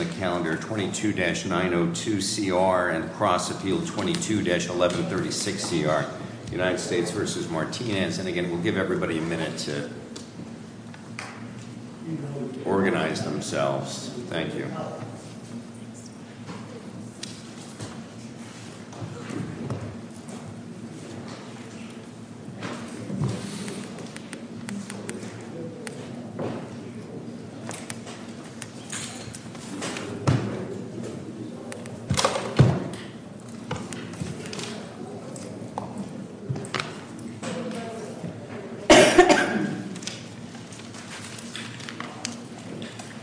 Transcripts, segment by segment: in the calendar 22-902CR and across the field 22-1136CR, United States v. Martinez. And again, we'll give everybody a minute to organize themselves. Thank you. Thank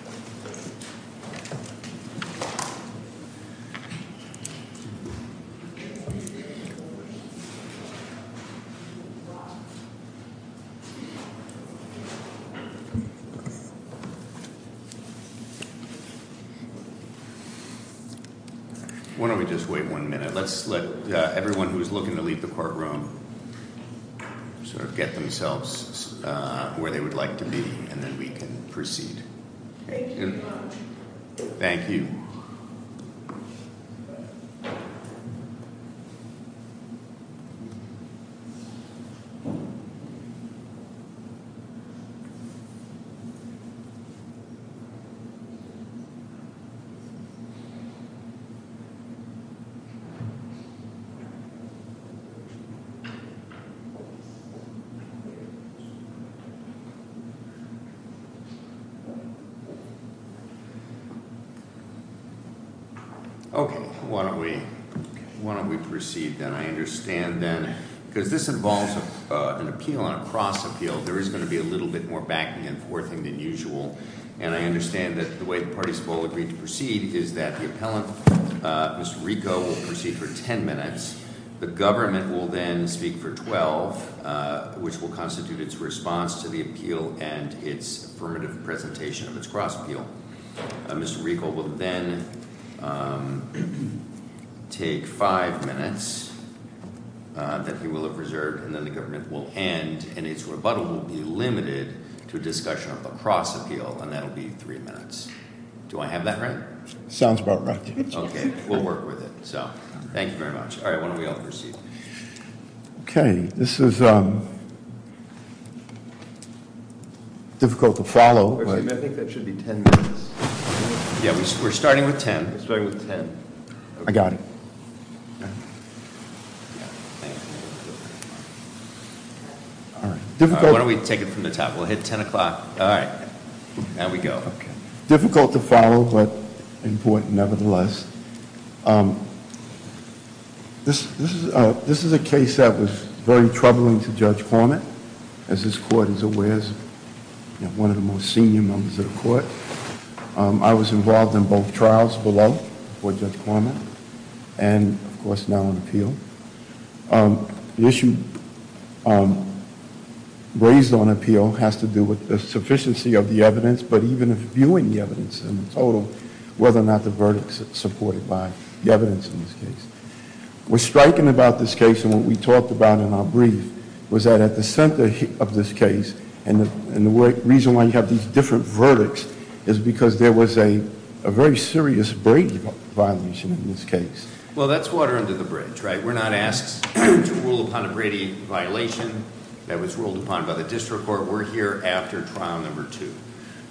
you. Why don't we just wait one minute. Let's let everyone who is looking to leave the courtroom sort of get themselves where they would like to be and then we can proceed. Thank you. Okay. Why don't we proceed then? I understand then, because this involves an appeal and a cross appeal, there is going to be a little bit more backing and forthing than usual. And I understand that the way the parties have all agreed to proceed is that the appellant, Mr. Rico, will proceed for 10 minutes. The government will then speak for 12, which will constitute its response to the appeal and its affirmative presentation of its cross appeal. Mr. Rico will then take five minutes that he will have reserved, and then the government will end and its rebuttal will be limited to a discussion of a cross appeal. And that will be three minutes. Do I have that right? Sounds about right. Okay. We'll work with it. So thank you very much. All right. Why don't we all proceed? Okay. This is difficult to follow. I think that should be 10 minutes. Yeah, we're starting with 10. We're starting with 10. I got it. Why don't we take it from the top? We'll hit 10 o'clock. All right. Now we go. Difficult to follow, but important nevertheless. This is a case that was very troubling to Judge Cormitt, as this Court is aware is one of the most senior members of the Court. I was involved in both trials below for Judge Cormitt and, of course, now on appeal. The issue raised on appeal has to do with the sufficiency of the evidence, but even viewing the evidence in total, whether or not the verdict is supported by the evidence in this case. What's striking about this case and what we talked about in our brief was that at the center of this case, and the reason why you have these different verdicts is because there was a very serious Brady violation in this case. Well, that's water under the bridge, right? We're not asked to rule upon a Brady violation that was ruled upon by the district court. We're here after trial number two.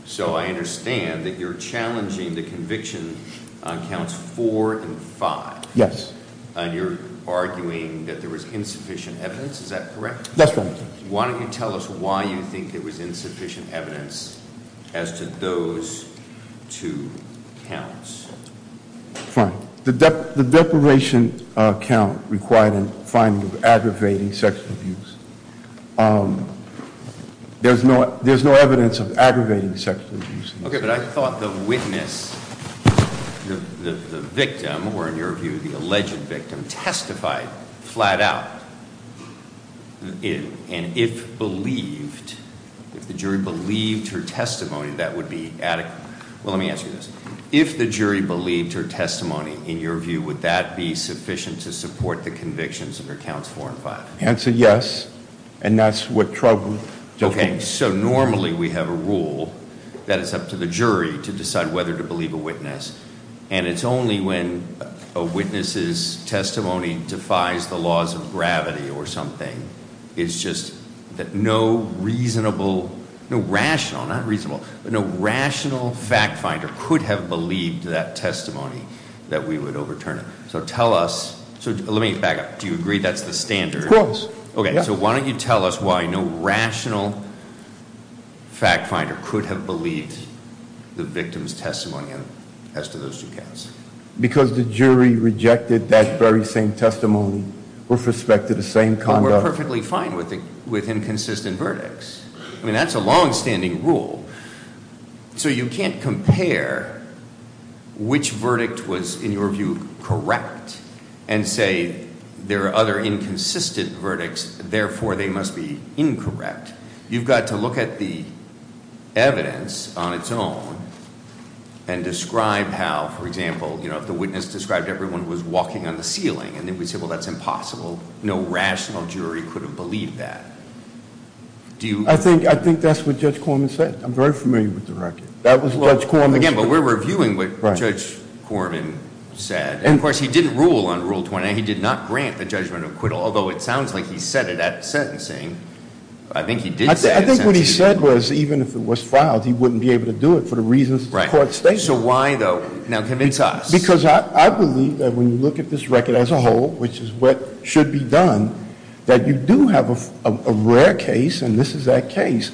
So I understand that you're challenging the conviction on counts four and five. Yes. And you're arguing that there was insufficient evidence. Is that correct? That's right. Why don't you tell us why you think there was insufficient evidence as to those two counts? Fine. The deprivation count required a finding of aggravating sexual abuse. There's no evidence of aggravating sexual abuse. Okay, but I thought the witness, the victim, or in your view, the alleged victim, testified flat out. And if believed, if the jury believed her testimony, that would be adequate. Well, let me ask you this. If the jury believed her testimony, in your view, would that be sufficient to support the convictions under counts four and five? Answer yes, and that's what trouble- Okay, so normally we have a rule that it's up to the jury to decide whether to believe a witness. And it's only when a witness's testimony defies the laws of gravity or something. It's just that no reasonable, no rational, not reasonable, but no rational fact finder could have believed that testimony that we would overturn it. So tell us, so let me back up. Do you agree that's the standard? Of course. Okay, so why don't you tell us why no rational fact finder could have believed the victim's testimony as to those two counts? Because the jury rejected that very same testimony with respect to the same conduct. And we're perfectly fine with inconsistent verdicts. I mean, that's a longstanding rule. So you can't compare which verdict was, in your view, correct, and say there are other inconsistent verdicts, therefore they must be incorrect. You've got to look at the evidence on its own and describe how, for example, if the witness described everyone was walking on the ceiling, and then we say, well, that's impossible. No rational jury could have believed that. I think that's what Judge Corman said. I'm very familiar with the record. Again, but we're reviewing what Judge Corman said. And, of course, he didn't rule on Rule 29. He did not grant the judgment of acquittal, although it sounds like he said it at sentencing. I think he did say it at sentencing. I think what he said was even if it was filed, he wouldn't be able to do it for the reasons the court stated. So why, though? Now convince us. Because I believe that when you look at this record as a whole, which is what should be done, that you do have a rare case, and this is that case,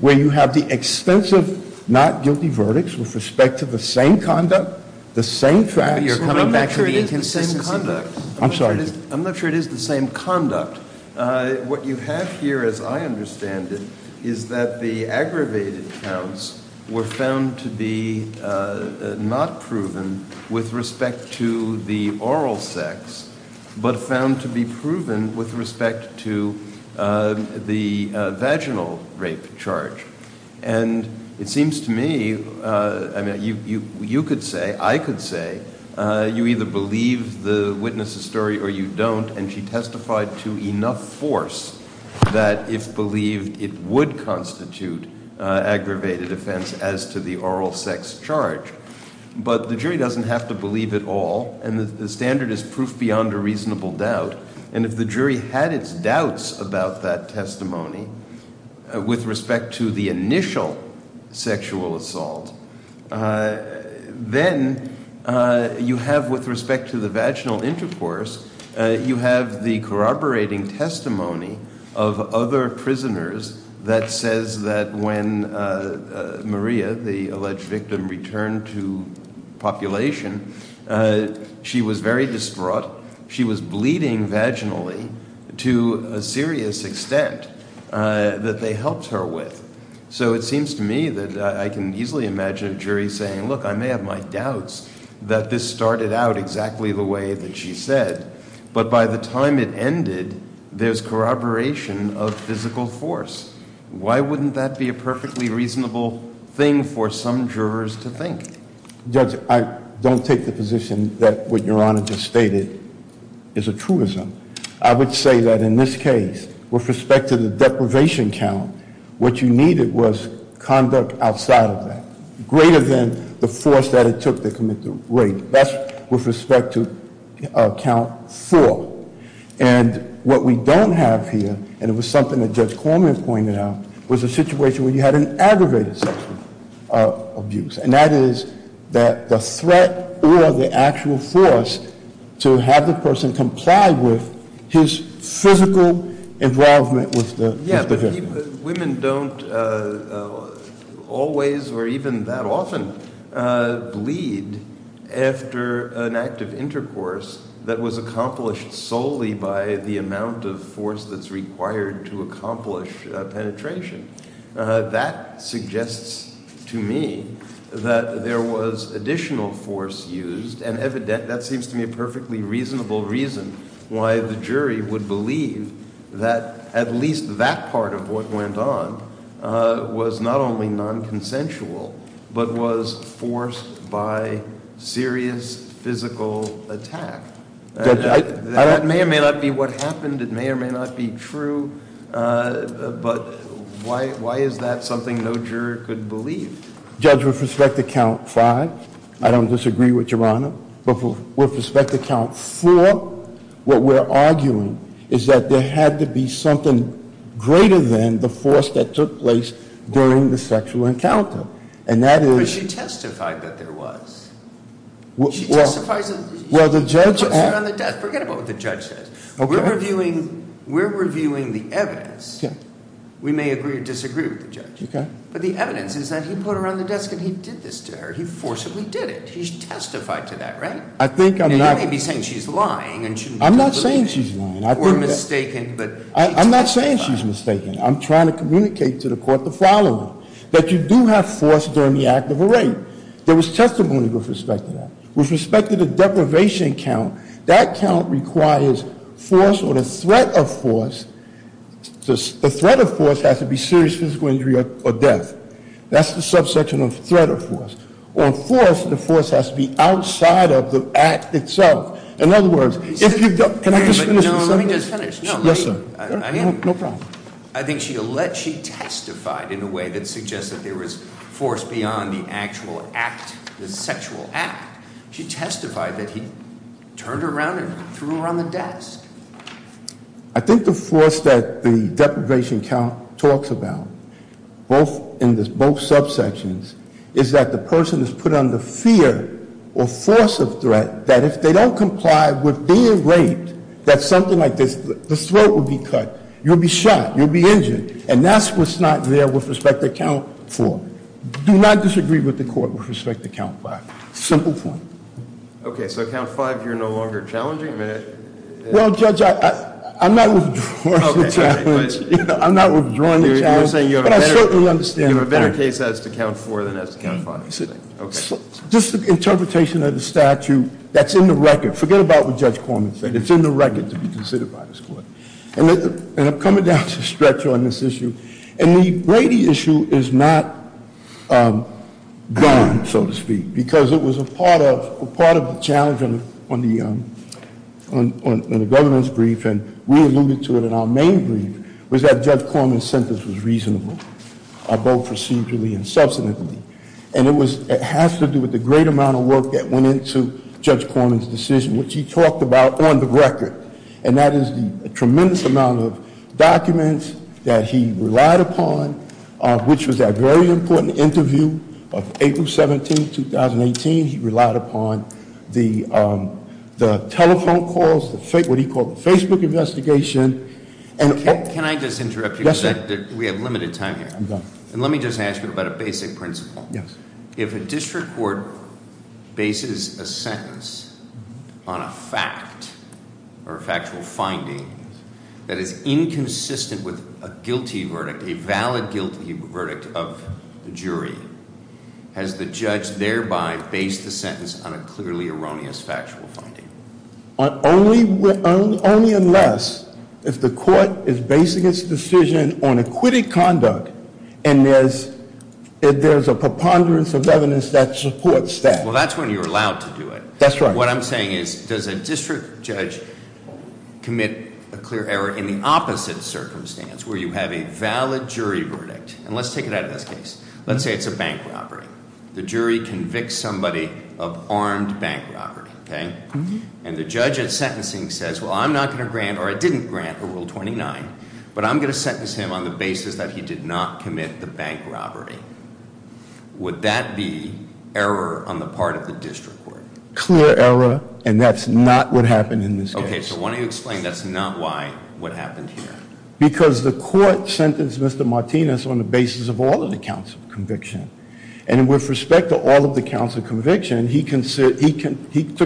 where you have the extensive not guilty verdicts with respect to the same conduct, the same facts. You're coming back to the inconsistency. I'm not sure it is the same conduct. I'm sorry. I'm not sure it is the same conduct. What you have here, as I understand it, is that the aggravated counts were found to be not proven with respect to the oral sex, but found to be proven with respect to the vaginal rape charge. And it seems to me, I mean, you could say, I could say, you either believe the witness's story or you don't, and she testified to enough force that if believed, it would constitute aggravated offense as to the oral sex charge. But the jury doesn't have to believe it all, and the standard is proof beyond a reasonable doubt. And if the jury had its doubts about that testimony with respect to the initial sexual assault, then you have, with respect to the vaginal intercourse, you have the corroborating testimony of other prisoners that says that when Maria, the alleged victim, returned to population, she was very distraught. She was bleeding vaginally to a serious extent that they helped her with. So it seems to me that I can easily imagine a jury saying, look, I may have my doubts that this started out exactly the way that she said, but by the time it ended, there's corroboration of physical force. Why wouldn't that be a perfectly reasonable thing for some jurors to think? Judge, I don't take the position that what Your Honor just stated is a truism. I would say that in this case, with respect to the deprivation count, what you needed was conduct outside of that, greater than the force that it took to commit the rape. That's with respect to count four. And what we don't have here, and it was something that Judge Cormier pointed out, was a situation where you had an aggravated sexual abuse. And that is that the threat or the actual force to have the person comply with his physical involvement with the victim. Yeah, but women don't always or even that often bleed after an act of intercourse that was accomplished solely by the amount of force that's required to accomplish penetration. That suggests to me that there was additional force used and evident that seems to me a perfectly reasonable reason why the jury would believe that at least that part of what went on was not only non-consensual, but was forced by serious physical attack. That may or may not be what happened. It may or may not be true. But why is that something no juror could believe? Judge, with respect to count five, I don't disagree with Your Honor. But with respect to count four, what we're arguing is that there had to be something greater than the force that took place during the sexual encounter. And that is- But she testified that there was. She testifies that- Well, the judge- She puts it on the desk. Forget about what the judge says. We're reviewing the evidence. We may agree or disagree with the judge. Okay. But the evidence is that he put her on the desk and he did this to her. He forcibly did it. He testified to that, right? I think I'm not- And you may be saying she's lying and she- I'm not saying she's lying. Or mistaken, but- I'm not saying she's mistaken. I'm trying to communicate to the court the following, that you do have force during the act of a rape. There was testimony with respect to that. With respect to the deprivation count, that count requires force or the threat of force. The threat of force has to be serious physical injury or death. That's the subsection of threat of force. On force, the force has to be outside of the act itself. In other words, if you don't- But, no, let me just finish. Yes, sir. No problem. I think she testified in a way that suggests that there was force beyond the actual act, the sexual act. She testified that he turned her around and threw her on the desk. I think the force that the deprivation count talks about, both in both subsections, is that the person is put under fear or force of threat that if they don't comply with being raped, that something like this, the throat will be cut. You'll be shot. You'll be injured. And that's what's not there with respect to count four. Do not disagree with the court with respect to count five. Simple point. Okay. So, count five, you're no longer challenging? Well, Judge, I'm not withdrawing the challenge. I'm not withdrawing the challenge. You're saying you have a better case as to count four than as to count five. Just an interpretation of the statute that's in the record. Forget about what Judge Corman said. It's in the record to be considered by this court. And I'm coming down to stretch on this issue. And the Brady issue is not done, so to speak, because it was a part of the challenge on the governance brief, and we alluded to it in our main brief, was that Judge Corman's sentence was reasonable, both procedurally and subsequently. And it has to do with the great amount of work that went into Judge Corman's decision, which he talked about on the record. And that is the tremendous amount of documents that he relied upon, which was that very important interview of April 17, 2018. He relied upon the telephone calls, what he called the Facebook investigation. Can I just interrupt you? Yes, sir. We have limited time here. I'm done. And let me just ask you about a basic principle. Yes. If a district court bases a sentence on a fact or a factual finding that is inconsistent with a guilty verdict, a valid guilty verdict of the jury, has the judge thereby based the sentence on a clearly erroneous factual finding? Only unless if the court is basing its decision on acquitted conduct and there's a preponderance of evidence that supports that. Well, that's when you're allowed to do it. That's right. What I'm saying is, does a district judge commit a clear error in the opposite circumstance where you have a valid jury verdict? And let's take it out of this case. Let's say it's a bank robbery. The jury convicts somebody of armed bank robbery, okay? And the judge at sentencing says, well, I'm not going to grant or I didn't grant a Rule 29, but I'm going to sentence him on the basis that he did not commit the bank robbery. Would that be error on the part of the district court? Clear error, and that's not what happened in this case. Okay, so why don't you explain that's not why what happened here? Because the court sentenced Mr. Martinez on the basis of all of the counts of conviction. And with respect to all of the counts of conviction, he took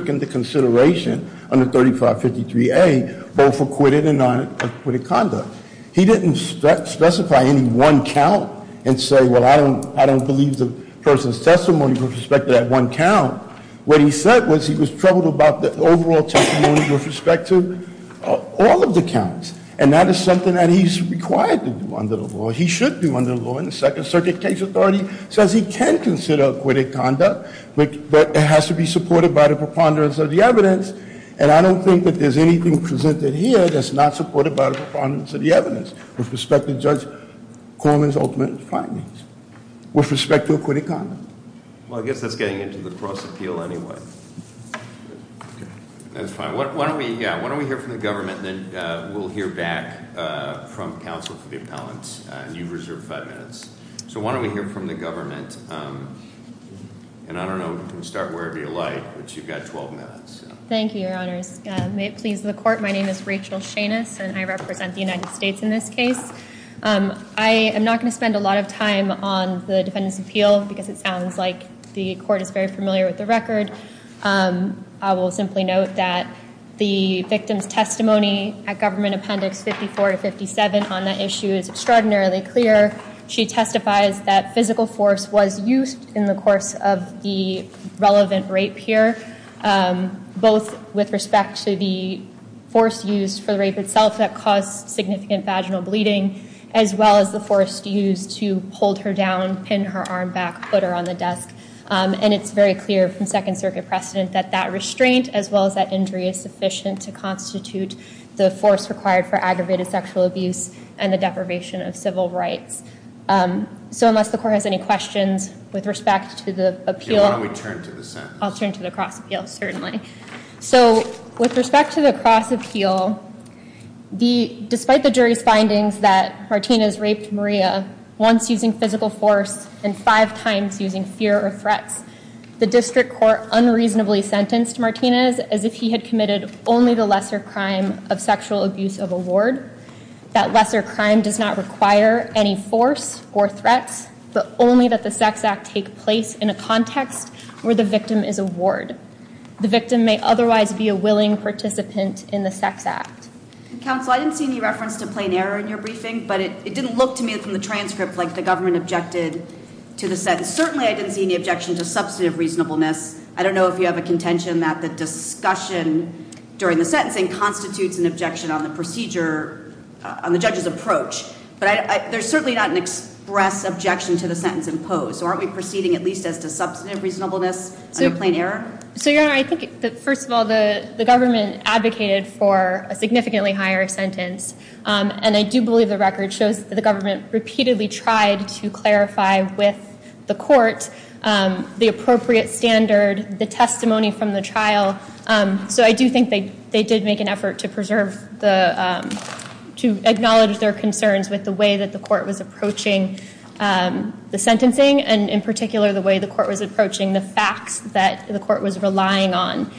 into consideration under 3553A both acquitted and non-acquitted conduct. He didn't specify any one count and say, well, I don't believe the person's testimony with respect to that one count. What he said was he was troubled about the overall testimony with respect to all of the counts. And that is something that he's required to do under the law. He should do under the law. And the second circuit case authority says he can consider acquitted conduct, but it has to be supported by the preponderance of the evidence. And I don't think that there's anything presented here that's not supported by the preponderance of the evidence with respect to Judge Coleman's ultimate findings. With respect to acquitted conduct. Well, I guess that's getting into the cross appeal anyway. That's fine. Why don't we hear from the government, and then we'll hear back from counsel for the appellants. You've reserved five minutes. So why don't we hear from the government? And I don't know, you can start wherever you like, but you've got 12 minutes. Thank you, your honors. May it please the court. My name is Rachel Shanus, and I represent the United States in this case. I am not going to spend a lot of time on the defendant's appeal because it sounds like the court is very familiar with the record. I will simply note that the victim's testimony at government appendix 54 to 57 on that issue is extraordinarily clear. She testifies that physical force was used in the course of the relevant rape here, both with respect to the force used for the rape itself that caused significant vaginal bleeding, as well as the force used to hold her down, pin her arm back, put her on the desk. And it's very clear from Second Circuit precedent that that restraint, as well as that injury, is sufficient to constitute the force required for aggravated sexual abuse and the deprivation of civil rights. So unless the court has any questions with respect to the appeal. Why don't we turn to the sentence? I'll turn to the cross appeal, certainly. So with respect to the cross appeal, despite the jury's findings that Martinez raped Maria once using physical force and five times using fear or threats, the district court unreasonably sentenced Martinez as if he had committed only the lesser crime of sexual abuse of a ward. That lesser crime does not require any force or threats, but only that the sex act take place in a context where the victim is a ward. The victim may otherwise be a willing participant in the sex act. Counsel, I didn't see any reference to plain error in your briefing, but it didn't look to me from the transcript like the government objected to the sentence. Certainly, I didn't see any objection to substantive reasonableness. I don't know if you have a contention that the discussion during the sentencing constitutes an objection on the procedure, on the judge's approach. But there's certainly not an express objection to the sentence imposed. So aren't we proceeding at least as to substantive reasonableness under plain error? So, Your Honor, I think, first of all, the government advocated for a significantly higher sentence. And I do believe the record shows that the government repeatedly tried to clarify with the court the appropriate standard, the testimony from the trial. So I do think they did make an effort to preserve the, to acknowledge their concerns with the way that the court was approaching the sentencing, and in particular the way the court was approaching the facts that the court was relying on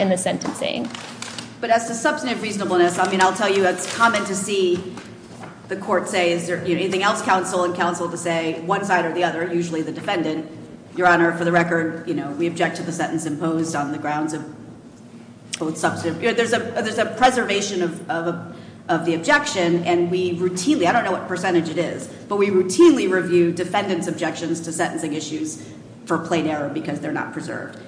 in the sentencing. But as to substantive reasonableness, I mean, I'll tell you it's common to see the court say, is there anything else counsel and counsel to say, one side or the other, usually the defendant. Your Honor, for the record, you know, we object to the sentence imposed on the grounds of both substantive. There's a preservation of the objection, and we routinely, I don't know what percentage it is, but we routinely review defendant's objections to sentencing issues for plain error because they're not preserved.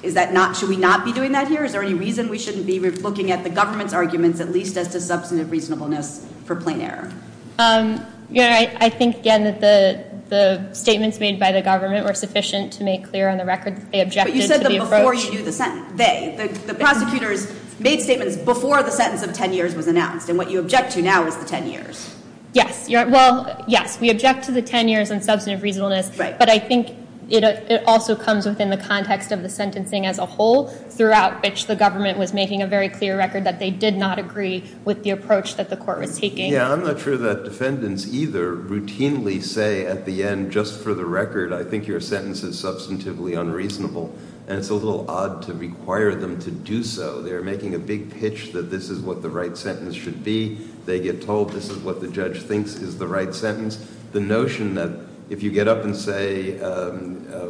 Is that not, should we not be doing that here? Is there any reason we shouldn't be looking at the government's arguments at least as to substantive reasonableness for plain error? Your Honor, I think, again, that the statements made by the government were sufficient to make clear on the record that they objected to the approach. But you said that before you do the sentence, they, the prosecutors made statements before the sentence of 10 years was announced, and what you object to now is the 10 years. Yes, well, yes, we object to the 10 years on substantive reasonableness, but I think it also comes within the context of the sentencing as a whole, throughout which the government was making a very clear record that they did not agree with the approach that the court was taking. Yeah, I'm not sure that defendants either routinely say at the end, just for the record, I think your sentence is substantively unreasonable, and it's a little odd to require them to do so. They're making a big pitch that this is what the right sentence should be. They get told this is what the judge thinks is the right sentence. The notion that if you get up and say,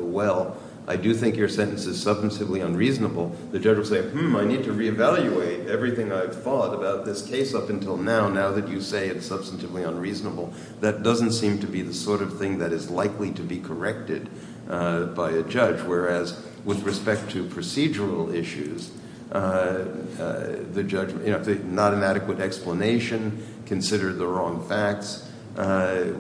well, I do think your sentence is substantively unreasonable, the judge will say, hmm, I need to reevaluate everything I've thought about this case up until now, now that you say it's substantively unreasonable. That doesn't seem to be the sort of thing that is likely to be corrected by a judge, whereas with respect to procedural issues, if there's not an adequate explanation, consider the wrong facts,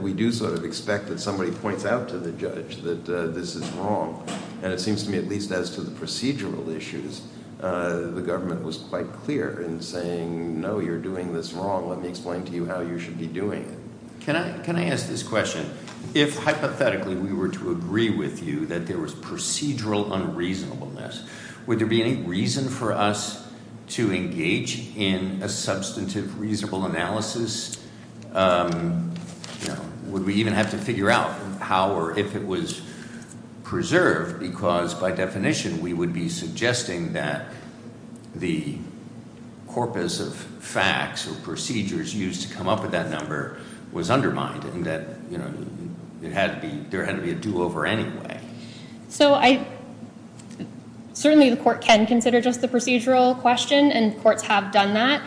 we do sort of expect that somebody points out to the judge that this is wrong. And it seems to me at least as to the procedural issues, the government was quite clear in saying, no, you're doing this wrong. Let me explain to you how you should be doing it. Can I ask this question? If hypothetically we were to agree with you that there was procedural unreasonableness, would there be any reason for us to engage in a substantive reasonable analysis? Would we even have to figure out how or if it was preserved? Because by definition, we would be suggesting that the corpus of facts or procedures used to come up with that number was undermined, and that there had to be a do-over anyway. So certainly the court can consider just the procedural question, and courts have done that.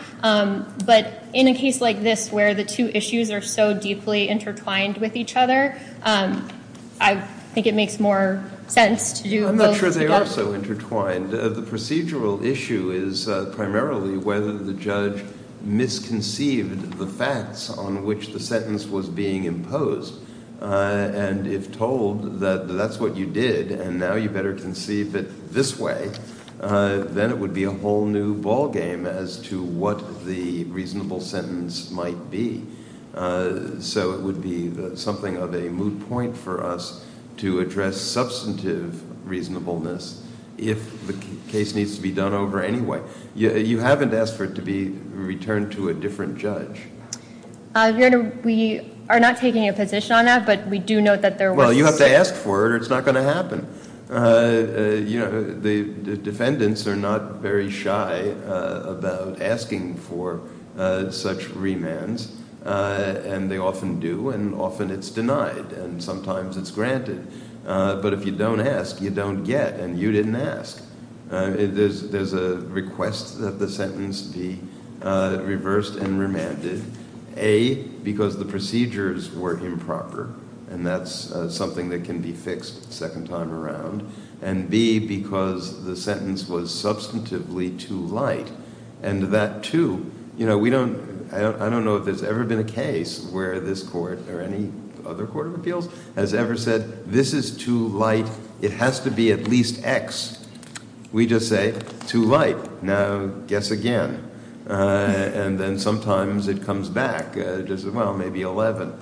But in a case like this where the two issues are so deeply intertwined with each other, I think it makes more sense to do both together. I'm not sure they are so intertwined. The procedural issue is primarily whether the judge misconceived the facts on which the sentence was being imposed. And if told that that's what you did and now you better conceive it this way, then it would be a whole new ballgame as to what the reasonable sentence might be. So it would be something of a moot point for us to address substantive reasonableness if the case needs to be done over anyway. You haven't asked for it to be returned to a different judge. We are not taking a position on that, but we do note that there was... Well, you have to ask for it or it's not going to happen. The defendants are not very shy about asking for such remands, and they often do, and often it's denied, and sometimes it's granted. But if you don't ask, you don't get, and you didn't ask. There's a request that the sentence be reversed and remanded, A, because the procedures were improper, and that's something that can be fixed a second time around, and B, because the sentence was substantively too light. And that, too, you know, we don't... I don't know if there's ever been a case where this court or any other court of appeals has ever said, this is too light, it has to be at least X. We just say, too light. Now, guess again. And then sometimes it comes back. Well, maybe 11,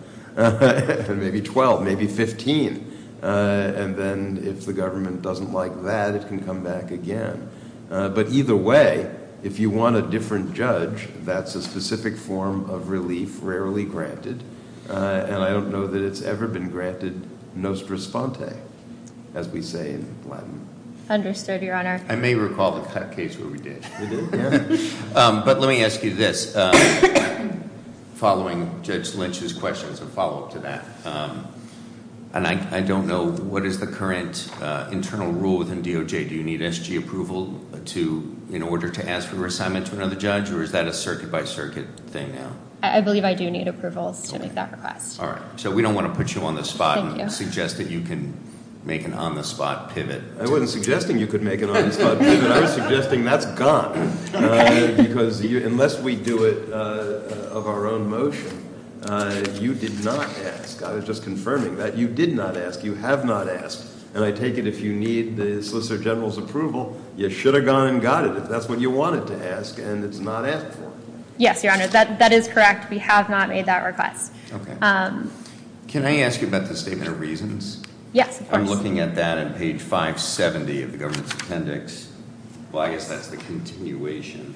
maybe 12, maybe 15. And then if the government doesn't like that, it can come back again. But either way, if you want a different judge, that's a specific form of relief rarely granted, and I don't know that it's ever been granted nostris fonte, as we say in Latin. Understood, Your Honor. I may recall the case where we did. But let me ask you this. Following Judge Lynch's questions, a follow-up to that, and I don't know what is the current internal rule within DOJ. Do you need SG approval in order to ask for reassignment to another judge, or is that a circuit-by-circuit thing now? I believe I do need approvals to make that request. All right. So we don't want to put you on the spot and suggest that you can make an on-the-spot pivot. I wasn't suggesting you could make an on-the-spot pivot. I was suggesting that's gone, because unless we do it of our own motion, you did not ask. I was just confirming that. You did not ask. You have not asked. And I take it if you need the Solicitor General's approval, you should have gone and got it if that's what you wanted to ask, and it's not asked for. Yes, Your Honor, that is correct. We have not made that request. Okay. Can I ask you about the statement of reasons? Yes, of course. I'm looking at that on page 570 of the government's appendix. Well, I guess that's the continuation.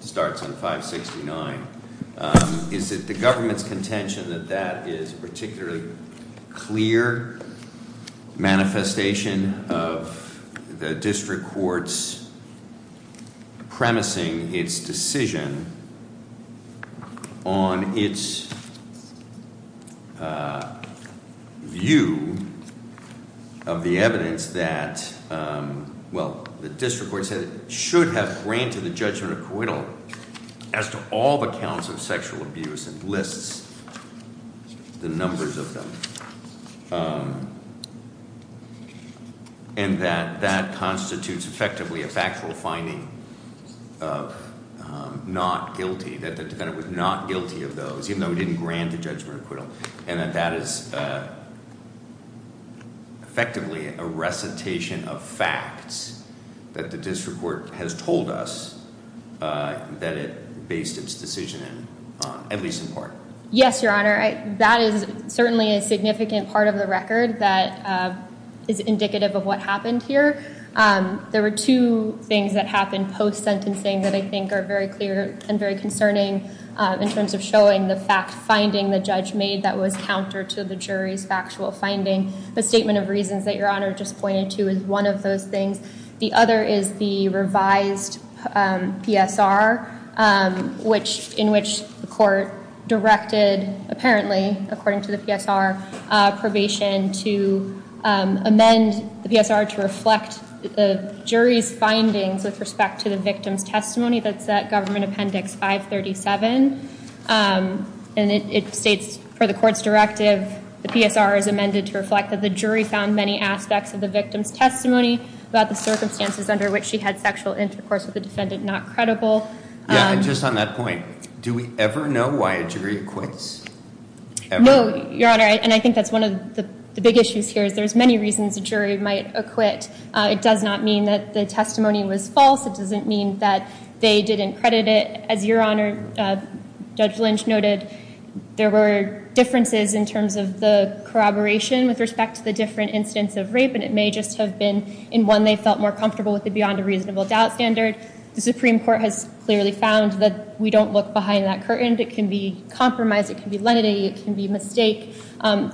It starts on 569. Is it the government's contention that that is a particularly clear manifestation of the district court's premising its decision on its view of the evidence that, well, the district court said it should have granted the judgment acquittal. As to all the counts of sexual abuse, it lists the numbers of them, and that that constitutes effectively a factual finding of not guilty, that the defendant was not guilty of those, even though he didn't grant the judgment acquittal. And that that is effectively a recitation of facts that the district court has told us that it based its decision on, at least in part. Yes, Your Honor. That is certainly a significant part of the record that is indicative of what happened here. There were two things that happened post-sentencing that I think are very clear and very concerning in terms of showing the fact-finding the judge made that was counter to the jury's factual finding. The statement of reasons that Your Honor just pointed to is one of those things. The other is the revised PSR, in which the court directed, apparently, according to the PSR probation, to amend the PSR to reflect the jury's findings with respect to the victim's testimony that's at Government Appendix 537. And it states for the court's directive, the PSR is amended to reflect that the jury found many aspects of the victim's testimony about the circumstances under which she had sexual intercourse with a defendant not credible. Yeah, and just on that point, do we ever know why a jury acquits? Ever? No, Your Honor. And I think that's one of the big issues here is there's many reasons a jury might acquit. It does not mean that the testimony was false. It doesn't mean that they didn't credit it. As Your Honor, Judge Lynch noted, there were differences in terms of the corroboration with respect to the different incidents of rape. And it may just have been in one they felt more comfortable with the beyond a reasonable doubt standard. The Supreme Court has clearly found that we don't look behind that curtain. It can be compromise. It can be lenity. It can be mistake.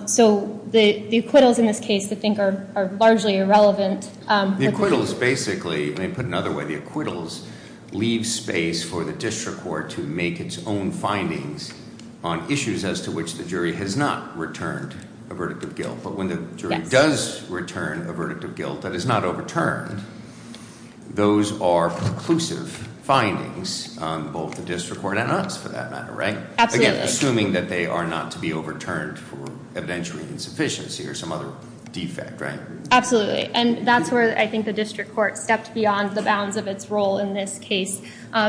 So the acquittals in this case, I think, are largely irrelevant. The acquittals basically – let me put it another way. The acquittals leave space for the district court to make its own findings on issues as to which the jury has not returned a verdict of guilt. But when the jury does return a verdict of guilt that is not overturned, those are preclusive findings on both the district court and us for that matter, right? Absolutely. Assuming that they are not to be overturned for evidentiary insufficiency or some other defect, right? Absolutely. And that's where I think the district court stepped beyond the bounds of its role in this case,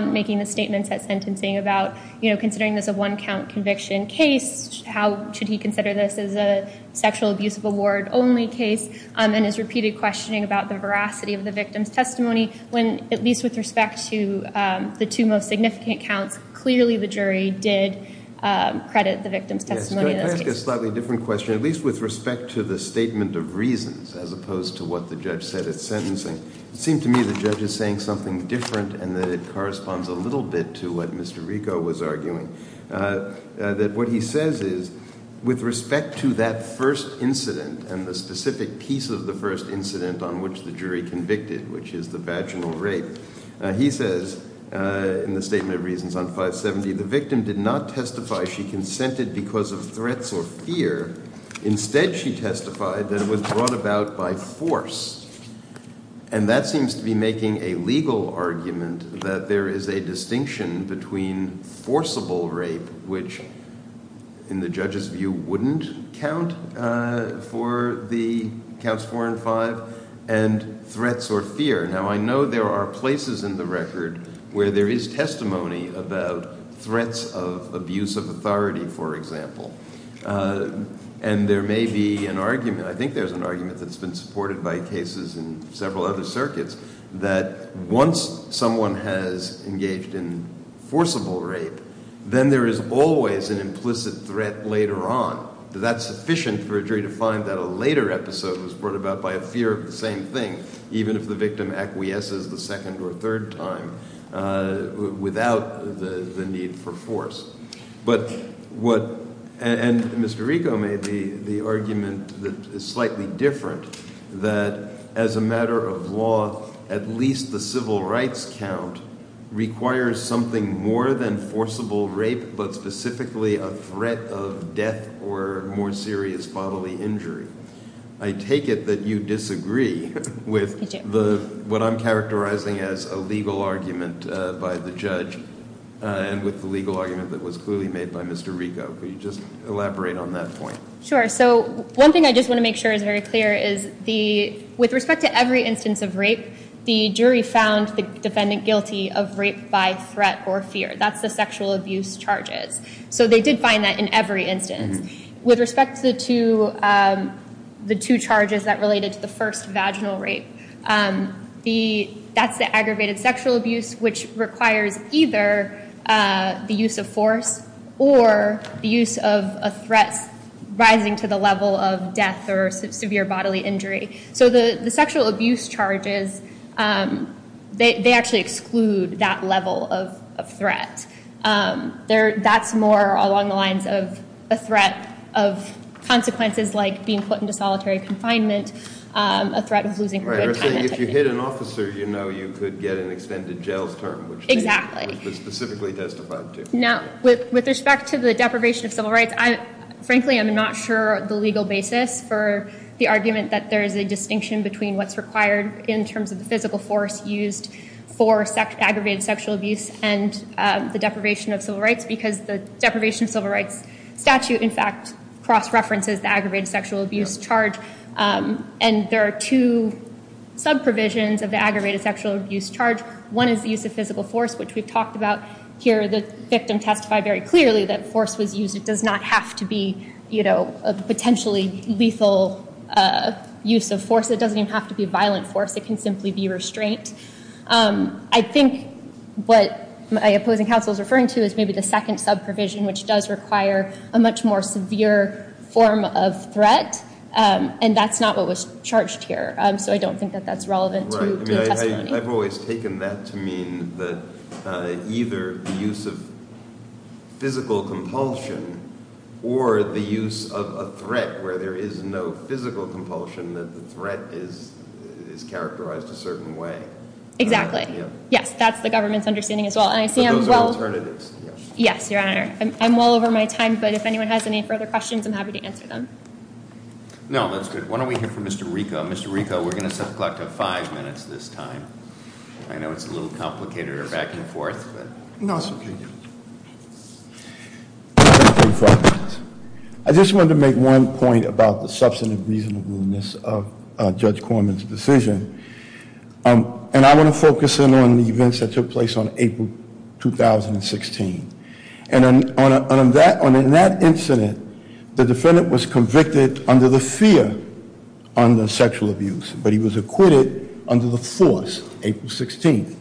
making the statements at sentencing about considering this a one-count conviction case. How should he consider this as a sexual abuse of award only case? And his repeated questioning about the veracity of the victim's testimony when, at least with respect to the two most significant counts, clearly the jury did credit the victim's testimony in this case. Can I ask a slightly different question, at least with respect to the statement of reasons as opposed to what the judge said at sentencing? It seemed to me the judge is saying something different and that it corresponds a little bit to what Mr. Rico was arguing. That what he says is, with respect to that first incident and the specific piece of the first incident on which the jury convicted, which is the vaginal rape, he says in the statement of reasons on 570, the victim did not testify she consented because of threats or fear. Instead, she testified that it was brought about by force. And that seems to be making a legal argument that there is a distinction between forcible rape, which in the judge's view wouldn't count for the counts 4 and 5, and threats or fear. Now, I know there are places in the record where there is testimony about threats of abuse of authority, for example. And there may be an argument, I think there's an argument that's been supported by cases in several other circuits, that once someone has engaged in forcible rape, then there is always an implicit threat later on. That's sufficient for a jury to find that a later episode was brought about by a fear of the same thing, even if the victim acquiesces the second or third time without the need for force. And Mr. Rico made the argument that is slightly different, that as a matter of law, at least the civil rights count requires something more than forcible rape, but specifically a threat of death or more serious bodily injury. I take it that you disagree with what I'm characterizing as a legal argument by the judge and with the legal argument that was clearly made by Mr. Rico. Could you just elaborate on that point? Sure. So one thing I just want to make sure is very clear is with respect to every instance of rape, the jury found the defendant guilty of rape by threat or fear. That's the sexual abuse charges. So they did find that in every instance. With respect to the two charges that related to the first, vaginal rape, that's the aggravated sexual abuse, which requires either the use of force or the use of a threat rising to the level of death or severe bodily injury. So the sexual abuse charges, they actually exclude that level of threat. That's more along the lines of a threat of consequences like being put into solitary confinement, a threat of losing a good time. Right, so if you hit an officer, you know you could get an extended jail term, which they specifically testified to. Now, with respect to the deprivation of civil rights, frankly, I'm not sure of the legal basis for the argument that there is a distinction between what's required in terms of the physical force used for aggravated sexual abuse and the deprivation of civil rights because the deprivation of civil rights statute, in fact, cross-references the aggravated sexual abuse charge. And there are two sub-provisions of the aggravated sexual abuse charge. One is the use of physical force, which we've talked about here. The victim testified very clearly that force was used. It does not have to be a potentially lethal use of force. It doesn't even have to be violent force. It can simply be restraint. I think what my opposing counsel is referring to is maybe the second sub-provision, which does require a much more severe form of threat, and that's not what was charged here. So I don't think that that's relevant to the testimony. Right, I mean, I've always taken that to mean that either the use of physical compulsion or the use of a threat where there is no physical compulsion, that the threat is characterized a certain way. Exactly. Yes, that's the government's understanding as well. But those are alternatives. Yes, Your Honor. I'm well over my time, but if anyone has any further questions, I'm happy to answer them. No, that's good. Why don't we hear from Mr. Rico. Mr. Rico, we're going to set the clock to five minutes this time. I know it's a little complicated or back and forth. No, it's okay. Thank you. I just wanted to make one point about the substantive reasonableness of Judge Korman's decision. And I want to focus in on the events that took place on April 2016. And in that incident, the defendant was convicted under the fear under sexual abuse, but he was acquitted under the force April 16th.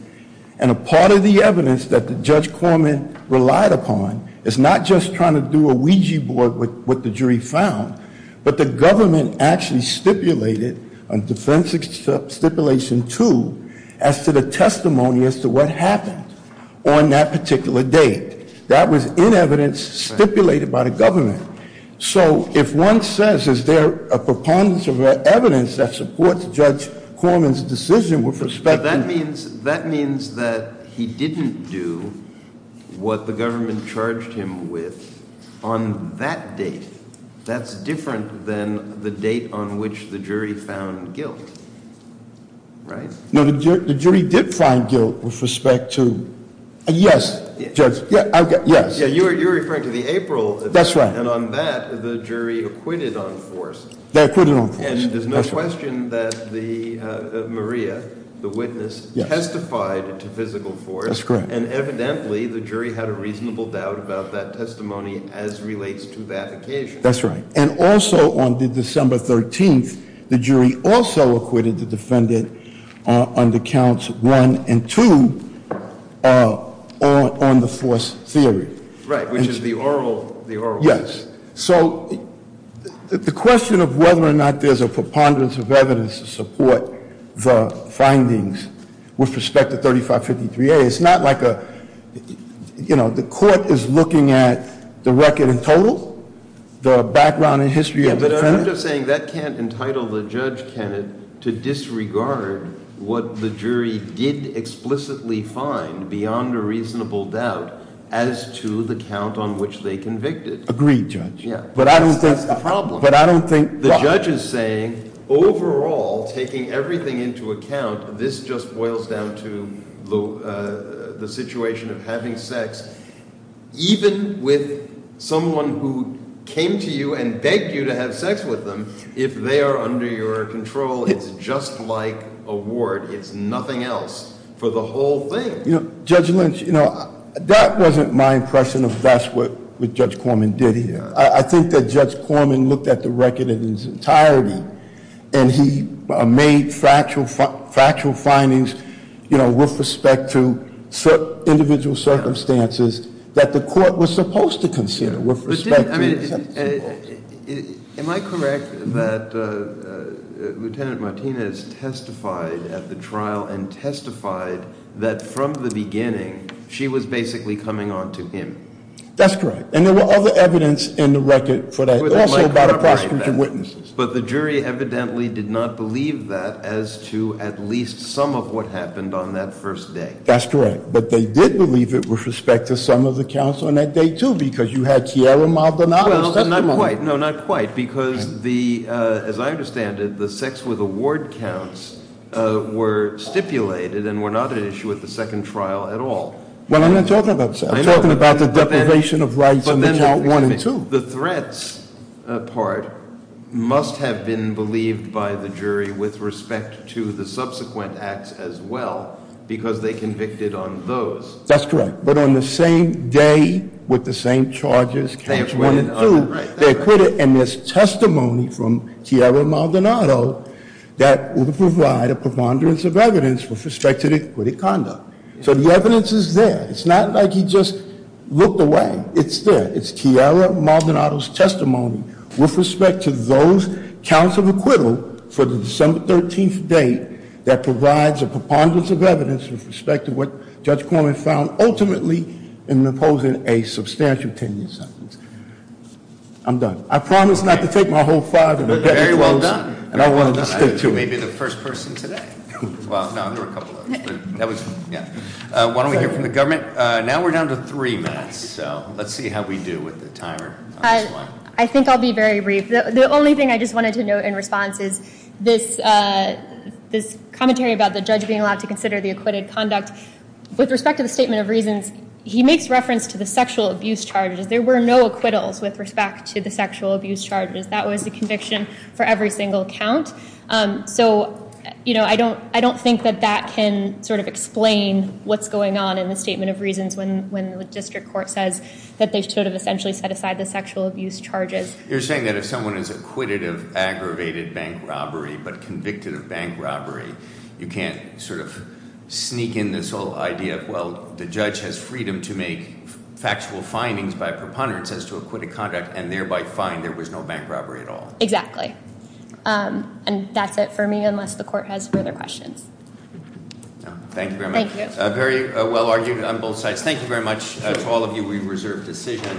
And a part of the evidence that Judge Korman relied upon is not just trying to do a Ouija board with what the jury found, but the government actually stipulated on defense stipulation two, as to the testimony as to what happened on that particular date. That was in evidence stipulated by the government. So if one says, is there a preponderance of evidence that supports Judge Korman's decision with respect to that means that he didn't do what the government charged him with on that date. That's different than the date on which the jury found guilt, right? No, the jury did find guilt with respect to, yes, Judge. Yes. You're referring to the April. That's right. And on that, the jury acquitted on force. They acquitted on force. And there's no question that Maria, the witness, testified to physical force. That's correct. And evidently, the jury had a reasonable doubt about that testimony as relates to that occasion. That's right. And also on the December 13th, the jury also acquitted the defendant on the counts one and two on the force theory. Right, which is the oral. Yes. So the question of whether or not there's a preponderance of evidence to support the findings with respect to 3553A, it's not like the court is looking at the record in total, the background and history of the defendant. Yeah, but I'm just saying that can't entitle the Judge Kennett to disregard what the jury did explicitly find beyond a reasonable doubt as to the count on which they convicted. Agreed, Judge. But I don't think- That's the problem. But I don't think- The judge is saying, overall, taking everything into account, this just boils down to the situation of having sex. Even with someone who came to you and begged you to have sex with them, if they are under your control, it's just like a ward. It's nothing else for the whole thing. Judge Lynch, that wasn't my impression of that's what Judge Corman did here. I think that Judge Corman looked at the record in its entirety and he made factual findings with respect to individual circumstances that the court was supposed to consider with respect to- Am I correct that Lieutenant Martinez testified at the trial and from the beginning, she was basically coming on to him? That's correct. And there were other evidence in the record for that, also about the prosecution witnesses. But the jury evidently did not believe that as to at least some of what happened on that first day. That's correct. But they did believe it with respect to some of the counts on that day, too, because you had Kiara Maldonado's testimony. No, not quite. Because as I understand it, the sex with a ward counts were stipulated and were not an issue at the second trial at all. Well, I'm not talking about sex. I'm talking about the deprivation of rights on the count one and two. The threats part must have been believed by the jury with respect to the subsequent acts as well, because they convicted on those. That's correct. But on the same day, with the same charges, count one and two, they acquitted. And there's testimony from Kiara Maldonado that would provide a preponderance of evidence with respect to the acquitted conduct. So the evidence is there. It's not like he just looked away. It's there. It's Kiara Maldonado's testimony with respect to those counts of acquittal for the December 13th date that provides a preponderance of evidence with respect to what Judge Corman found ultimately in imposing a substantial ten year sentence. I'm done. I promise not to take my whole five minutes. Very well done. And I wanted to stick to it. You may be the first person today. Well, no, there were a couple others. Why don't we hear from the government? Now we're down to three minutes. So let's see how we do with the timer. I think I'll be very brief. The only thing I just wanted to note in response is this commentary about the judge being allowed to consider the acquitted conduct. With respect to the statement of reasons, he makes reference to the sexual abuse charges. There were no acquittals with respect to the sexual abuse charges. That was the conviction for every single count. So I don't think that that can sort of explain what's going on in the statement of reasons when the district court says that they should have essentially set aside the sexual abuse charges. You're saying that if someone is acquitted of aggravated bank robbery but convicted of bank robbery, you can't sort of sneak in this whole idea of, well, the judge has freedom to make factual findings by preponderance as to acquitted conduct and thereby find there was no bank robbery at all. Exactly. And that's it for me unless the court has further questions. Thank you very much. Thank you. Very well argued on both sides. Thank you very much to all of you. We reserve decision.